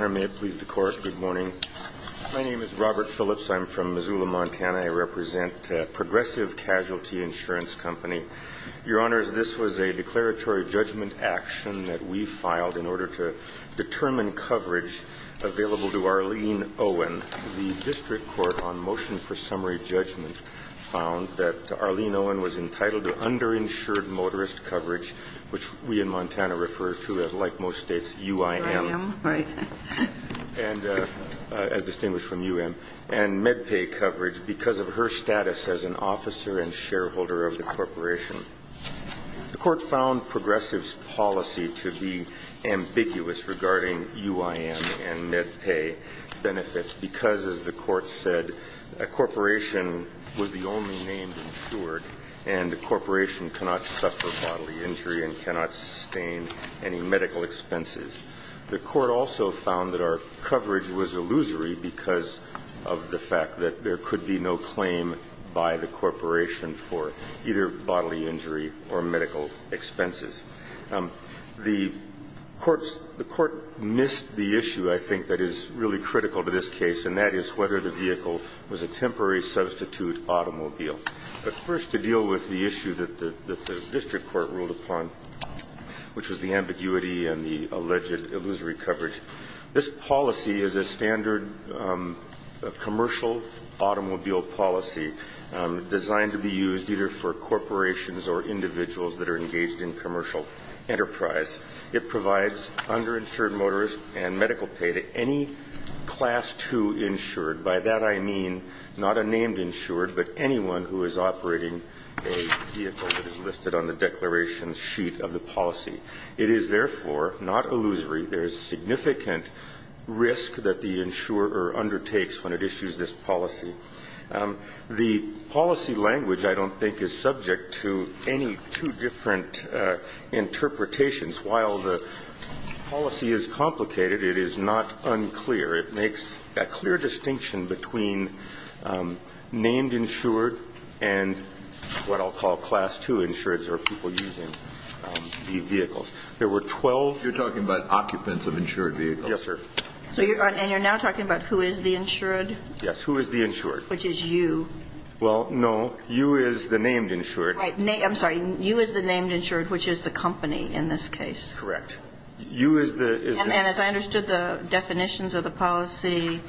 May it please the Court. Good morning. My name is Robert Phillips. I'm from Missoula, Montana. I represent Progressive Casualty Insurance Company. Your Honors, this was a declaratory judgment action that we filed in order to determine coverage available to Arlene Owen. The District Court on motion for summary judgment found that Arlene Owen was entitled to underinsured motorist coverage, which we in Montana refer to as, like most states, UIM. And as distinguished from UIM, and MedPay coverage because of her status as an officer and shareholder of the corporation. The Court found Progressive's policy to be ambiguous regarding UIM and MedPay benefits because, as the Court said, a corporation was the only name insured and a corporation cannot suffer bodily injury and cannot sustain any medical expenses. The Court also found that our coverage was illusory because of the fact that there could be no claim by the corporation for either bodily injury or medical expenses. The Court missed the issue, I think, that is really critical to this case, and that is whether the vehicle was a temporary substitute automobile. But first, to deal with the issue that the District Court ruled upon, which was the ambiguity and the alleged illusory coverage, this policy is a standard commercial automobile policy designed to be used either for corporations or individuals that are engaged in commercial enterprise. It provides underinsured motorist and medical pay to any Class II insured. By that, I mean not a named insured, but anyone who is operating a vehicle that is listed on the declaration sheet of the policy. It is, therefore, not illusory. There is significant risk that the insurer undertakes when it issues this policy. The policy language, I don't think, is subject to any two different interpretations. While the policy is complicated, it is not unclear. It makes a clear distinction between named insured and what I'll call Class II insureds or people using the vehicles. There were 12. Kennedy. You're talking about occupants of insured vehicles? Yes, sir. And you're now talking about who is the insured? Yes. Who is the insured? Which is you. Well, no. You is the named insured. Right. I'm sorry. You is the named insured, which is the company in this case. Correct. You is the insured. And as I understood the definitions of the policy,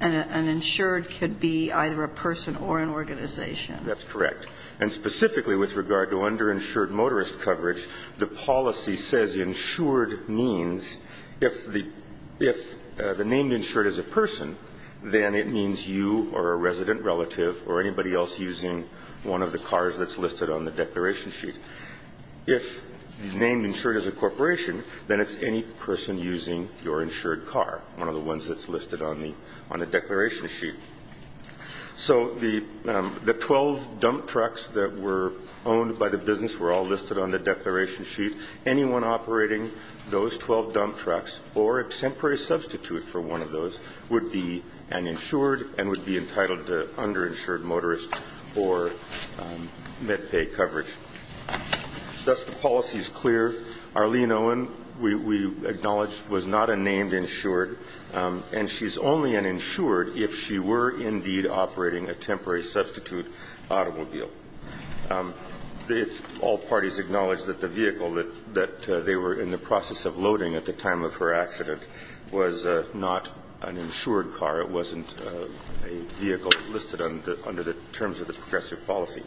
an insured could be either a person or an organization. That's correct. And specifically with regard to underinsured motorist coverage, the policy says insured means if the named insured is a person, then it means you or a resident relative or anybody else using one of the cars that's listed on the declaration sheet. If the named insured is a corporation, then it's any person using your insured car, one of the ones that's listed on the declaration sheet. So the 12 dump trucks that were owned by the business were all listed on the declaration sheet. Anyone operating those 12 dump trucks or a temporary substitute for one of those would be an insured and would be entitled to underinsured motorist or MedPay coverage. Thus the policy is clear. Arlene Owen, we acknowledge, was not a named insured, and she's only an insured if she were indeed operating a temporary substitute automobile. It's all parties acknowledge that the vehicle that they were in the process of loading at the time of her accident was not an insured car. It wasn't a vehicle listed under the terms of the progressive policy.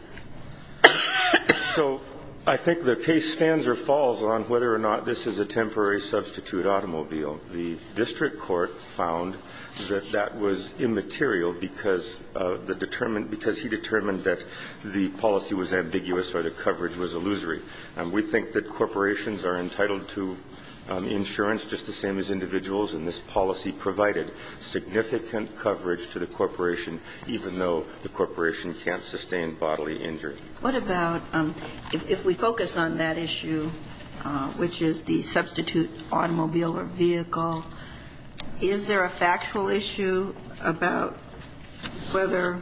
So I think the case stands or falls on whether or not this is a temporary substitute automobile. The district court found that that was immaterial because the determined, because he determined that the policy was ambiguous or the coverage was illusory. We think that corporations are entitled to insurance just the same as individuals, and this policy provided significant coverage to the corporation even though the corporation can't sustain bodily injury. What about if we focus on that issue, which is the substitute automobile or vehicle, is there a factual issue about whether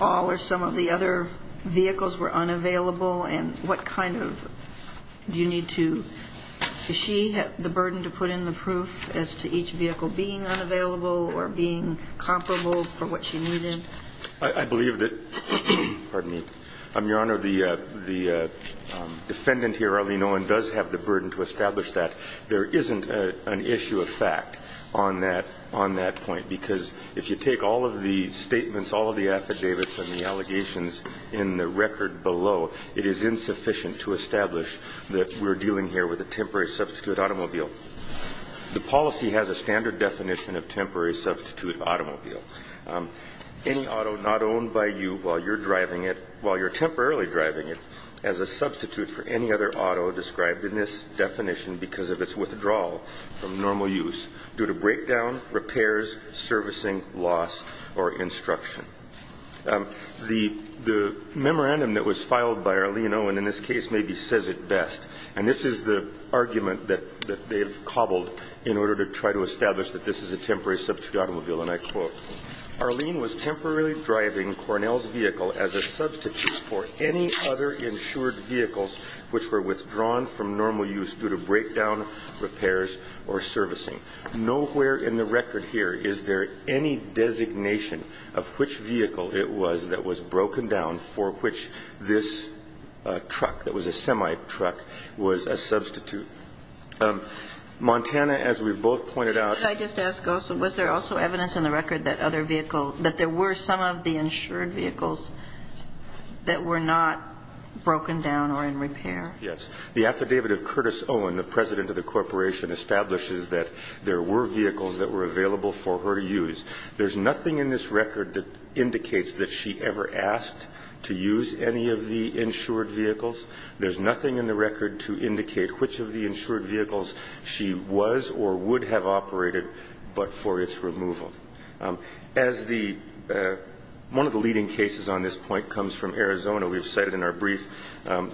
all or some of the other vehicles were unavailable and what kind of, do you need to, does she have the burden to put in the proof as to each vehicle being unavailable or being comparable for what she needed? I believe that, pardon me, Your Honor, the defendant here, Arlene Owen, does have the burden to establish that. There isn't an issue of fact on that point because if you take all of the statements, all of the affidavits and the allegations in the record below, it is insufficient to establish that we're dealing here with a temporary substitute automobile. The policy has a standard definition of temporary substitute automobile. Any auto not owned by you while you're driving it, while you're temporarily driving it, as a substitute for any other auto described in this definition because of its withdrawal from normal use due to breakdown, repairs, servicing, loss, or instruction. The memorandum that was filed by Arlene Owen in this case maybe says it best, and this is the argument that they have cobbled in order to try to establish that this is a temporary substitute automobile, and I quote, Arlene was temporarily driving Cornell's vehicle as a substitute for any other insured vehicles which were withdrawn from normal use due to breakdown, repairs, or servicing. Nowhere in the record here is there any designation of which vehicle it was that was broken down for which this truck that was a semi-truck was a substitute. Montana, as we've both pointed out. What did I just ask also? Was there also evidence in the record that other vehicle, that there were some of the insured vehicles that were not broken down or in repair? Yes. The affidavit of Curtis Owen, the president of the corporation, establishes that there were vehicles that were available for her to use. There's nothing in this record that indicates that she ever asked to use any of the insured vehicles. There's nothing in the record to indicate which of the insured vehicles she was or would have operated but for its removal. As the one of the leading cases on this point comes from Arizona, we've cited in our brief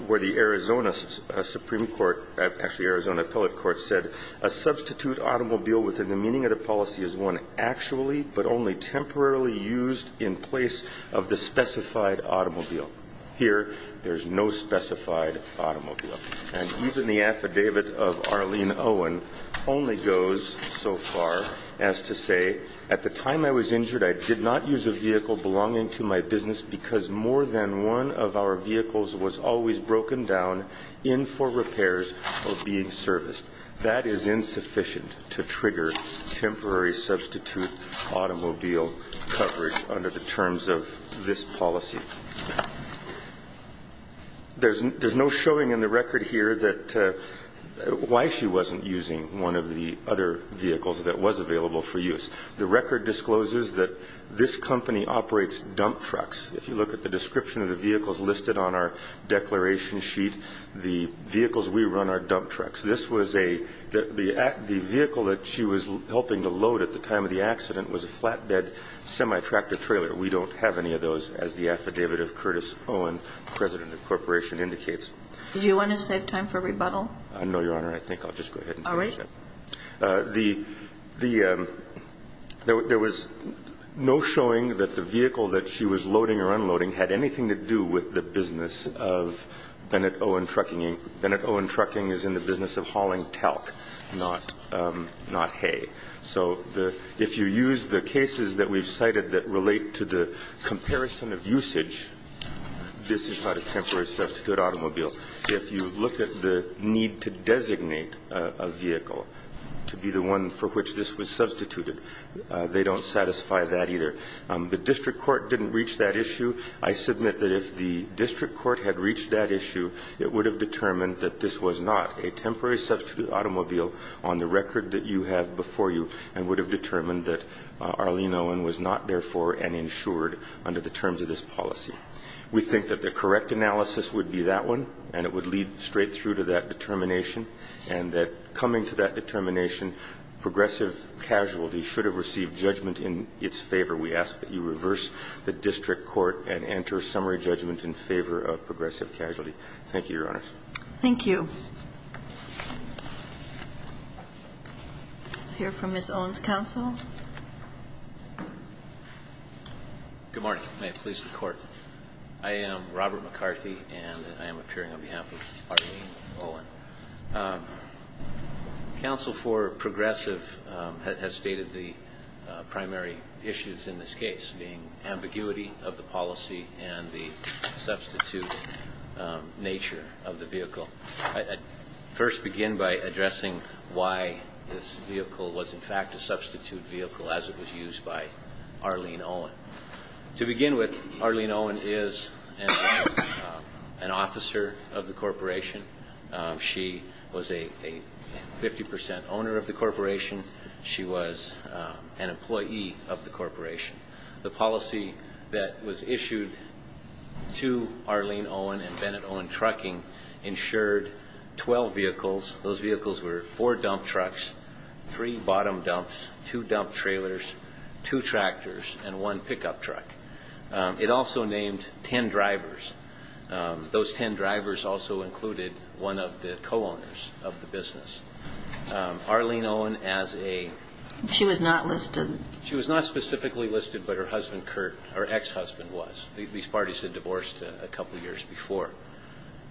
where the Arizona Supreme Court, actually Arizona Appellate Court said, a substitute automobile within the meaning of the policy is one actually but only temporarily used in place of the specified automobile. Here there's no specified automobile. And even the affidavit of Arlene Owen only goes so far as to say, at the time I was injured I did not use a vehicle belonging to my business because more than one of our vehicles was always broken down, in for repairs or being serviced. That is insufficient to trigger temporary substitute automobile coverage under the terms of this policy. There's no showing in the record here why she wasn't using one of the other vehicles that was available for use. The record discloses that this company operates dump trucks. If you look at the description of the vehicles listed on our declaration sheet, the vehicles we run are dump trucks. The vehicle that she was helping to load at the time of the accident was a flatbed semi-tractor trailer. We don't have any of those as the affidavit of Curtis Owen, President of the Corporation, indicates. Do you want to save time for rebuttal? No, Your Honor. I think I'll just go ahead and finish it. All right. The the there was no showing that the vehicle that she was loading or unloading had anything to do with the business of Bennett Owen Trucking. Bennett Owen Trucking is in the business of hauling talc, not hay. So if you use the cases that we've cited that relate to the comparison of usage, this is not a temporary substitute automobile. If you look at the need to designate a vehicle to be the one for which this was substituted, they don't satisfy that either. The district court didn't reach that issue. I submit that if the district court had reached that issue, it would have determined that this was not a temporary substitute automobile on the record that you have before you and would have determined that Arlene Owen was not therefore an insured under the terms of this policy. We think that the correct analysis would be that one, and it would lead straight through to that determination, and that coming to that determination, progressive casualty should have received judgment in its favor. We ask that you reverse the district court and enter summary judgment in favor of progressive casualty. Thank you, Your Honors. Thank you. I'll hear from Ms. Owen's counsel. Good morning. May it please the Court. I am Robert McCarthy, and I am appearing on behalf of Arlene Owen. Counsel for progressive has stated the primary issues in this case, being ambiguity of the policy and the substitute nature of the vehicle. I'd first begin by addressing why this vehicle was in fact a substitute vehicle as it was used by Arlene Owen. To begin with, Arlene Owen is an officer of the corporation. She was a 50 percent owner of the corporation. She was an employee of the corporation. The policy that was issued to Arlene Owen and Bennett Owen Trucking insured 12 vehicles. Those vehicles were four dump trucks, three bottom dumps, two dump trailers, two tractors, and one pickup truck. It also named ten drivers. Those ten drivers also included one of the co-owners of the business. Arlene Owen, as a ---- She was not listed. She was not specifically listed, but her husband, Kurt, her ex-husband was. These parties had divorced a couple of years before.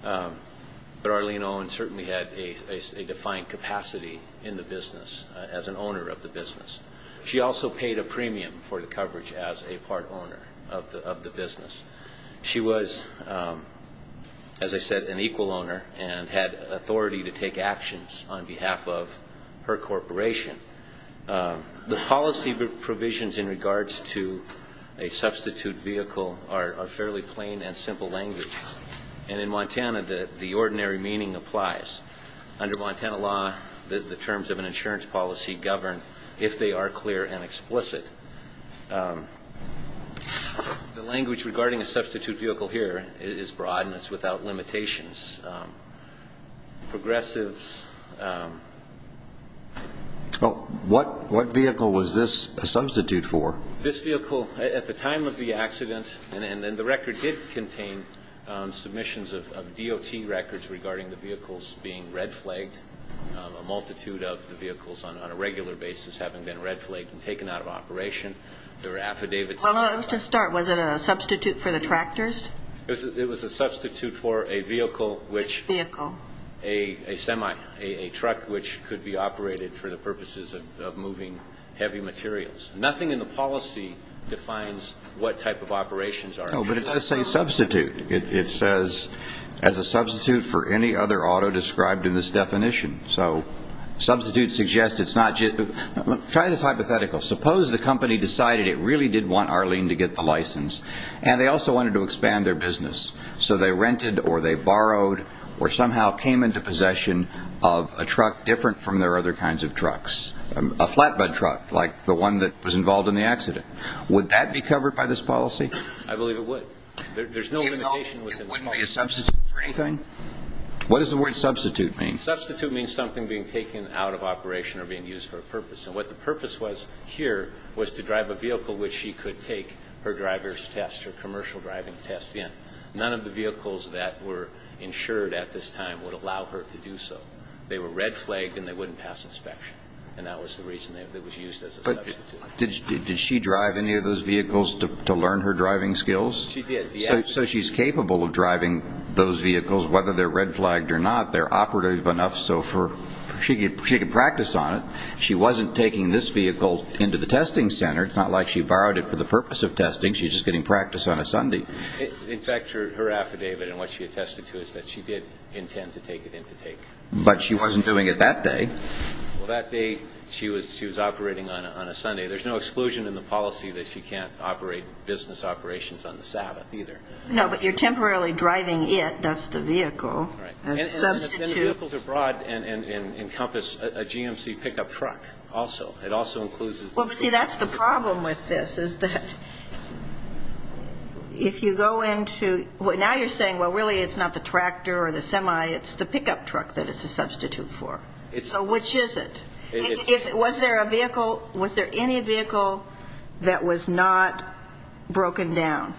But Arlene Owen certainly had a defined capacity in the business as an owner of the business. She also paid a premium for the coverage as a part owner of the business. She was, as I said, an equal owner and had authority to take actions on behalf of her corporation. The policy provisions in regards to a substitute vehicle are fairly plain and simple language. And in Montana, the ordinary meaning applies. Under Montana law, the terms of an insurance policy govern if they are clear and explicit. The language regarding a substitute vehicle here is broad and it's without limitations. Progressives ---- Oh, what vehicle was this a substitute for? This vehicle, at the time of the accident, and the record did contain submissions of DOT records regarding the vehicles being red flagged, a multitude of the vehicles on a regular basis having been red flagged and taken out of operation. There were affidavits. Well, let's just start. Was it a substitute for the tractors? It was a substitute for a vehicle which ---- A vehicle. A semi, a truck which could be operated for the purposes of moving heavy materials. Nothing in the policy defines what type of operations are ---- No, but it does say substitute. It says as a substitute for any other auto described in this definition. So substitute suggests it's not just ---- try this hypothetical. Suppose the company decided it really did want Arlene to get the license and they also wanted to expand their business, so they rented or they borrowed or somehow came into possession of a truck different from their other kinds of trucks, a flatbed truck like the one that was involved in the accident. Would that be covered by this policy? I believe it would. There's no limitation ---- Even though it wouldn't be a substitute for anything? What does the word substitute mean? Substitute means something being taken out of operation or being used for a purpose. And what the purpose was here was to drive a vehicle which she could take her driver's test, her commercial driving test in. None of the vehicles that were insured at this time would allow her to do so. They were red flagged and they wouldn't pass inspection, and that was the reason it was used as a substitute. Did she drive any of those vehicles to learn her driving skills? She did. So she's capable of driving those vehicles, whether they're red flagged or not. They're operative enough so she could practice on it. She wasn't taking this vehicle into the testing center. It's not like she borrowed it for the purpose of testing. She's just getting practice on a Sunday. In fact, her affidavit and what she attested to is that she did intend to take it in to take. But she wasn't doing it that day. Well, that day she was operating on a Sunday. There's no exclusion in the policy that she can't operate business operations on the Sabbath either. No, but you're temporarily driving it. That's the vehicle. And it's been a vehicle to broad and encompass a GMC pickup truck also. It also includes a GMC pickup truck. Well, but, see, that's the problem with this is that if you go into ñ now you're saying, well, really it's not the tractor or the semi, it's the pickup truck that it's a substitute for. So which is it? Was there a vehicle, was there any vehicle that was not broken down?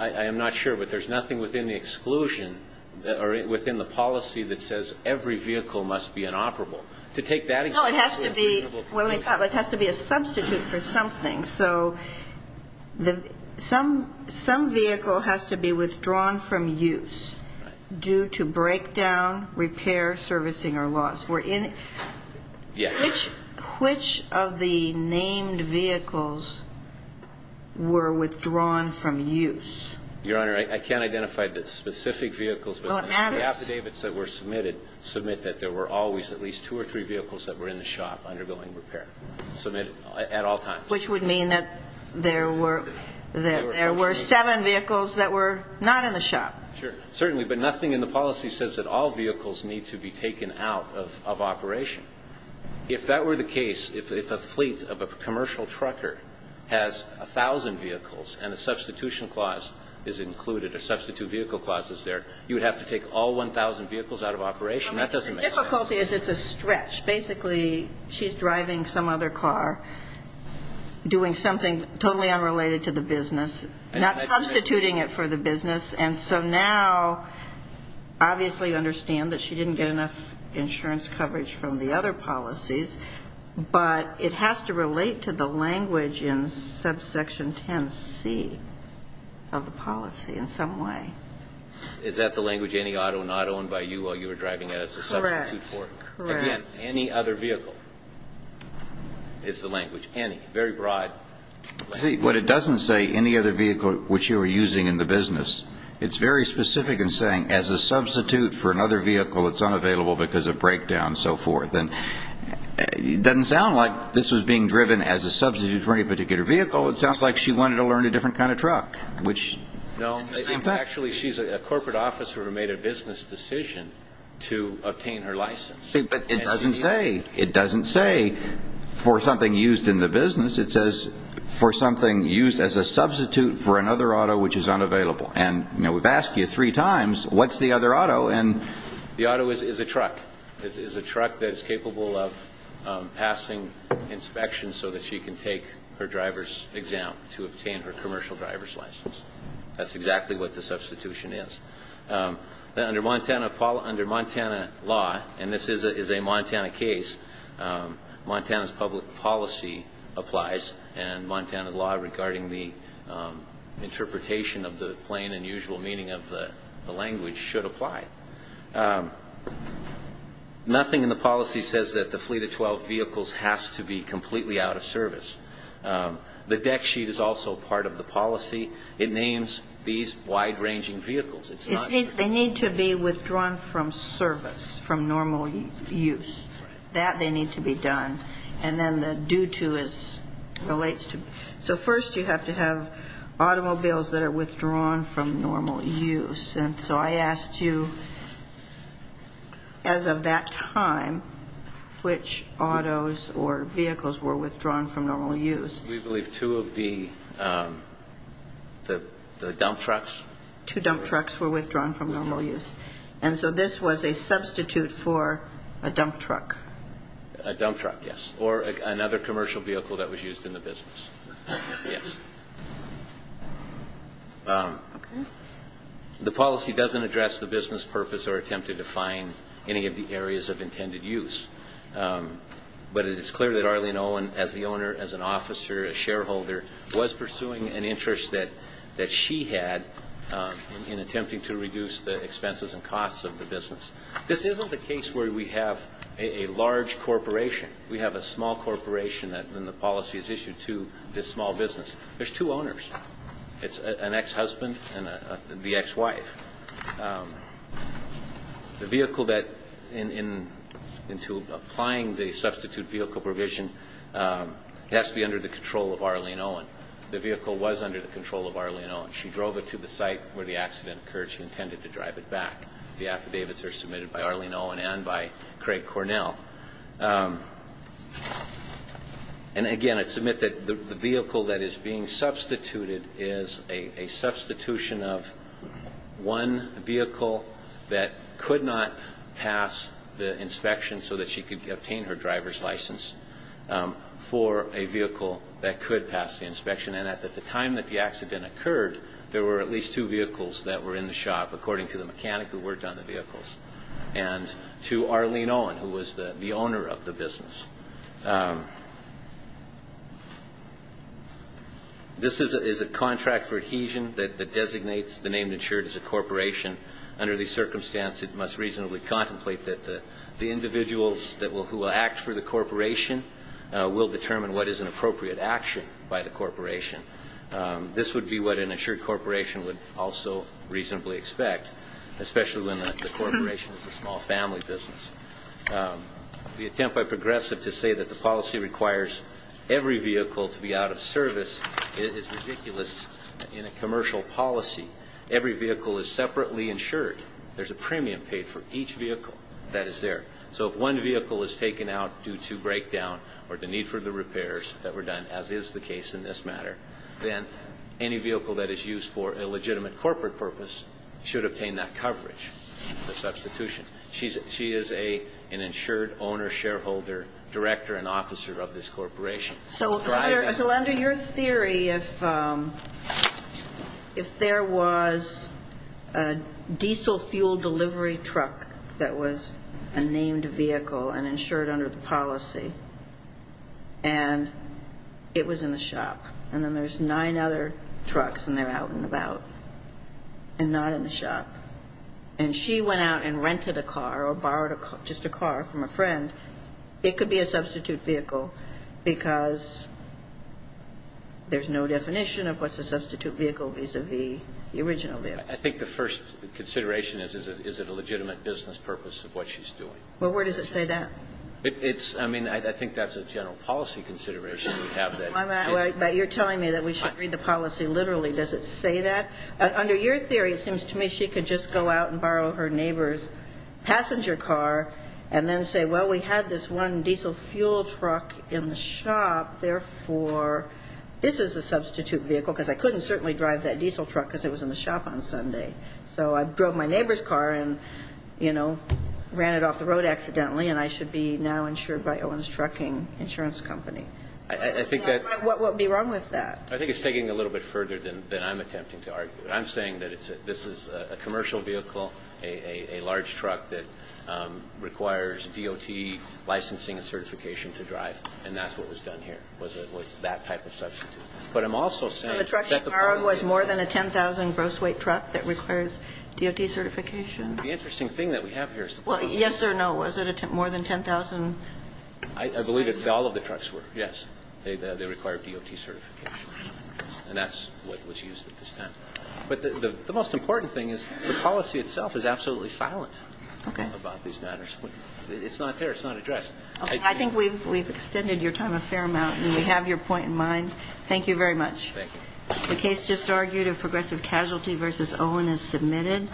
I am not sure, but there's nothing within the exclusion, or within the policy that says every vehicle must be inoperable. To take that ñ No, it has to be a substitute for something. So some vehicle has to be withdrawn from use due to breakdown, repair, servicing, or loss. Yes. Which of the named vehicles were withdrawn from use? Your Honor, I can't identify the specific vehicles. Well, it matters. The affidavits that were submitted submit that there were always at least two or three vehicles that were in the shop undergoing repair. Submitted at all times. Which would mean that there were seven vehicles that were not in the shop. Sure, certainly. But nothing in the policy says that all vehicles need to be taken out of operation. If that were the case, if a fleet of a commercial trucker has a thousand vehicles and a substitution clause is included, a substitute vehicle clause is there, you would have to take all 1,000 vehicles out of operation. That doesn't make sense. The difficulty is it's a stretch. Basically, she's driving some other car, doing something totally unrelated to the business, not substituting it for the business, and so now obviously you understand that she didn't get enough insurance coverage from the other policies, but it has to relate to the language in subsection 10C of the policy in some way. Is that the language, any auto not owned by you while you were driving it as a substitute for it? Correct. Again, any other vehicle is the language. Any. Very broad. See, but it doesn't say any other vehicle which you were using in the business. It's very specific in saying as a substitute for another vehicle, it's unavailable because of breakdown and so forth. And it doesn't sound like this was being driven as a substitute for any particular vehicle. It sounds like she wanted to learn a different kind of truck, which is the same thing. No, actually she's a corporate officer who made a business decision to obtain her license. But it doesn't say. It doesn't say for something used in the business. It says for something used as a substitute for another auto which is unavailable. And we've asked you three times, what's the other auto? The auto is a truck. It's a truck that is capable of passing inspections so that she can take her driver's exam to obtain her commercial driver's license. That's exactly what the substitution is. Under Montana law, and this is a Montana case, Montana's public policy applies, and Montana law regarding the interpretation of the plain and usual meaning of the language should apply. Nothing in the policy says that the fleet of 12 vehicles has to be completely out of service. The deck sheet is also part of the policy. It names these wide-ranging vehicles. They need to be withdrawn from service, from normal use. That they need to be done. And then the due to relates to. So first you have to have automobiles that are withdrawn from normal use. And so I asked you, as of that time, which autos or vehicles were withdrawn from normal use. We believe two of the dump trucks. Two dump trucks were withdrawn from normal use. And so this was a substitute for a dump truck. A dump truck, yes. Or another commercial vehicle that was used in the business. Yes. The policy doesn't address the business purpose or attempt to define any of the areas of intended use. But it is clear that Arlene Owen, as the owner, as an officer, a shareholder, was pursuing an interest that she had in attempting to reduce the expenses and costs of the business. This isn't the case where we have a large corporation. We have a small corporation and the policy is issued to this small business. There's two owners. It's an ex-husband and the ex-wife. The vehicle that, in applying the substitute vehicle provision, has to be under the control of Arlene Owen. The vehicle was under the control of Arlene Owen. She drove it to the site where the accident occurred. She intended to drive it back. The affidavits are submitted by Arlene Owen and by Craig Cornell. And, again, I'd submit that the vehicle that is being substituted is a substitution of one vehicle that could not pass the inspection so that she could obtain her driver's license for a vehicle that could pass the inspection. And at the time that the accident occurred, there were at least two vehicles that were in the shop, according to the mechanic who worked on the vehicles. And to Arlene Owen, who was the owner of the business. This is a contract for adhesion that designates the name insured as a corporation. Under these circumstances, it must reasonably contemplate that the individuals who will act for the corporation will determine what is an appropriate action by the corporation. This would be what an insured corporation would also reasonably expect, especially when the corporation is a small family business. The attempt by Progressive to say that the policy requires every vehicle to be out of service is ridiculous in a commercial policy. Every vehicle is separately insured. There's a premium paid for each vehicle that is there. So if one vehicle is taken out due to breakdown or the need for the repairs that were done, as is the case in this matter, then any vehicle that is used for a legitimate corporate purpose should obtain that coverage, the substitution. She is an insured owner, shareholder, director, and officer of this corporation. So under your theory, if there was a diesel fuel delivery truck that was a named vehicle and insured under the policy, and it was in the shop, and then there's nine other trucks and they're out and about and not in the shop, and she went out and rented a car or borrowed just a car from a friend, it could be a substitute vehicle because there's no definition of what's a substitute vehicle vis-à-vis the original vehicle. I think the first consideration is, is it a legitimate business purpose of what she's doing? Well, where does it say that? It's, I mean, I think that's a general policy consideration. But you're telling me that we should read the policy literally. Does it say that? Under your theory, it seems to me she could just go out and borrow her neighbor's passenger car and then say, well, we had this one diesel fuel truck in the shop, therefore, this is a substitute vehicle, because I couldn't certainly drive that diesel truck because it was in the shop on Sunday. So I drove my neighbor's car and, you know, ran it off the road accidentally, and I should be now insured by Owens Trucking Insurance Company. I think that's. What would be wrong with that? I think it's taking it a little bit further than I'm attempting to argue. I'm saying that this is a commercial vehicle, a large truck that requires DOT licensing and certification to drive, and that's what was done here, was that type of substitute. But I'm also saying that the policy is. So the truck she borrowed was more than a 10,000 gross weight truck that requires DOT certification? The interesting thing that we have here is the policy. Well, yes or no, was it more than 10,000? I believe all of the trucks were, yes. They required DOT certification, and that's what was used at this time. But the most important thing is the policy itself is absolutely silent about these matters. It's not fair. It's not addressed. Okay. I think we've extended your time a fair amount, and we have your point in mind. Thank you very much. Thank you. The case just argued of progressive casualty versus Owen is submitted.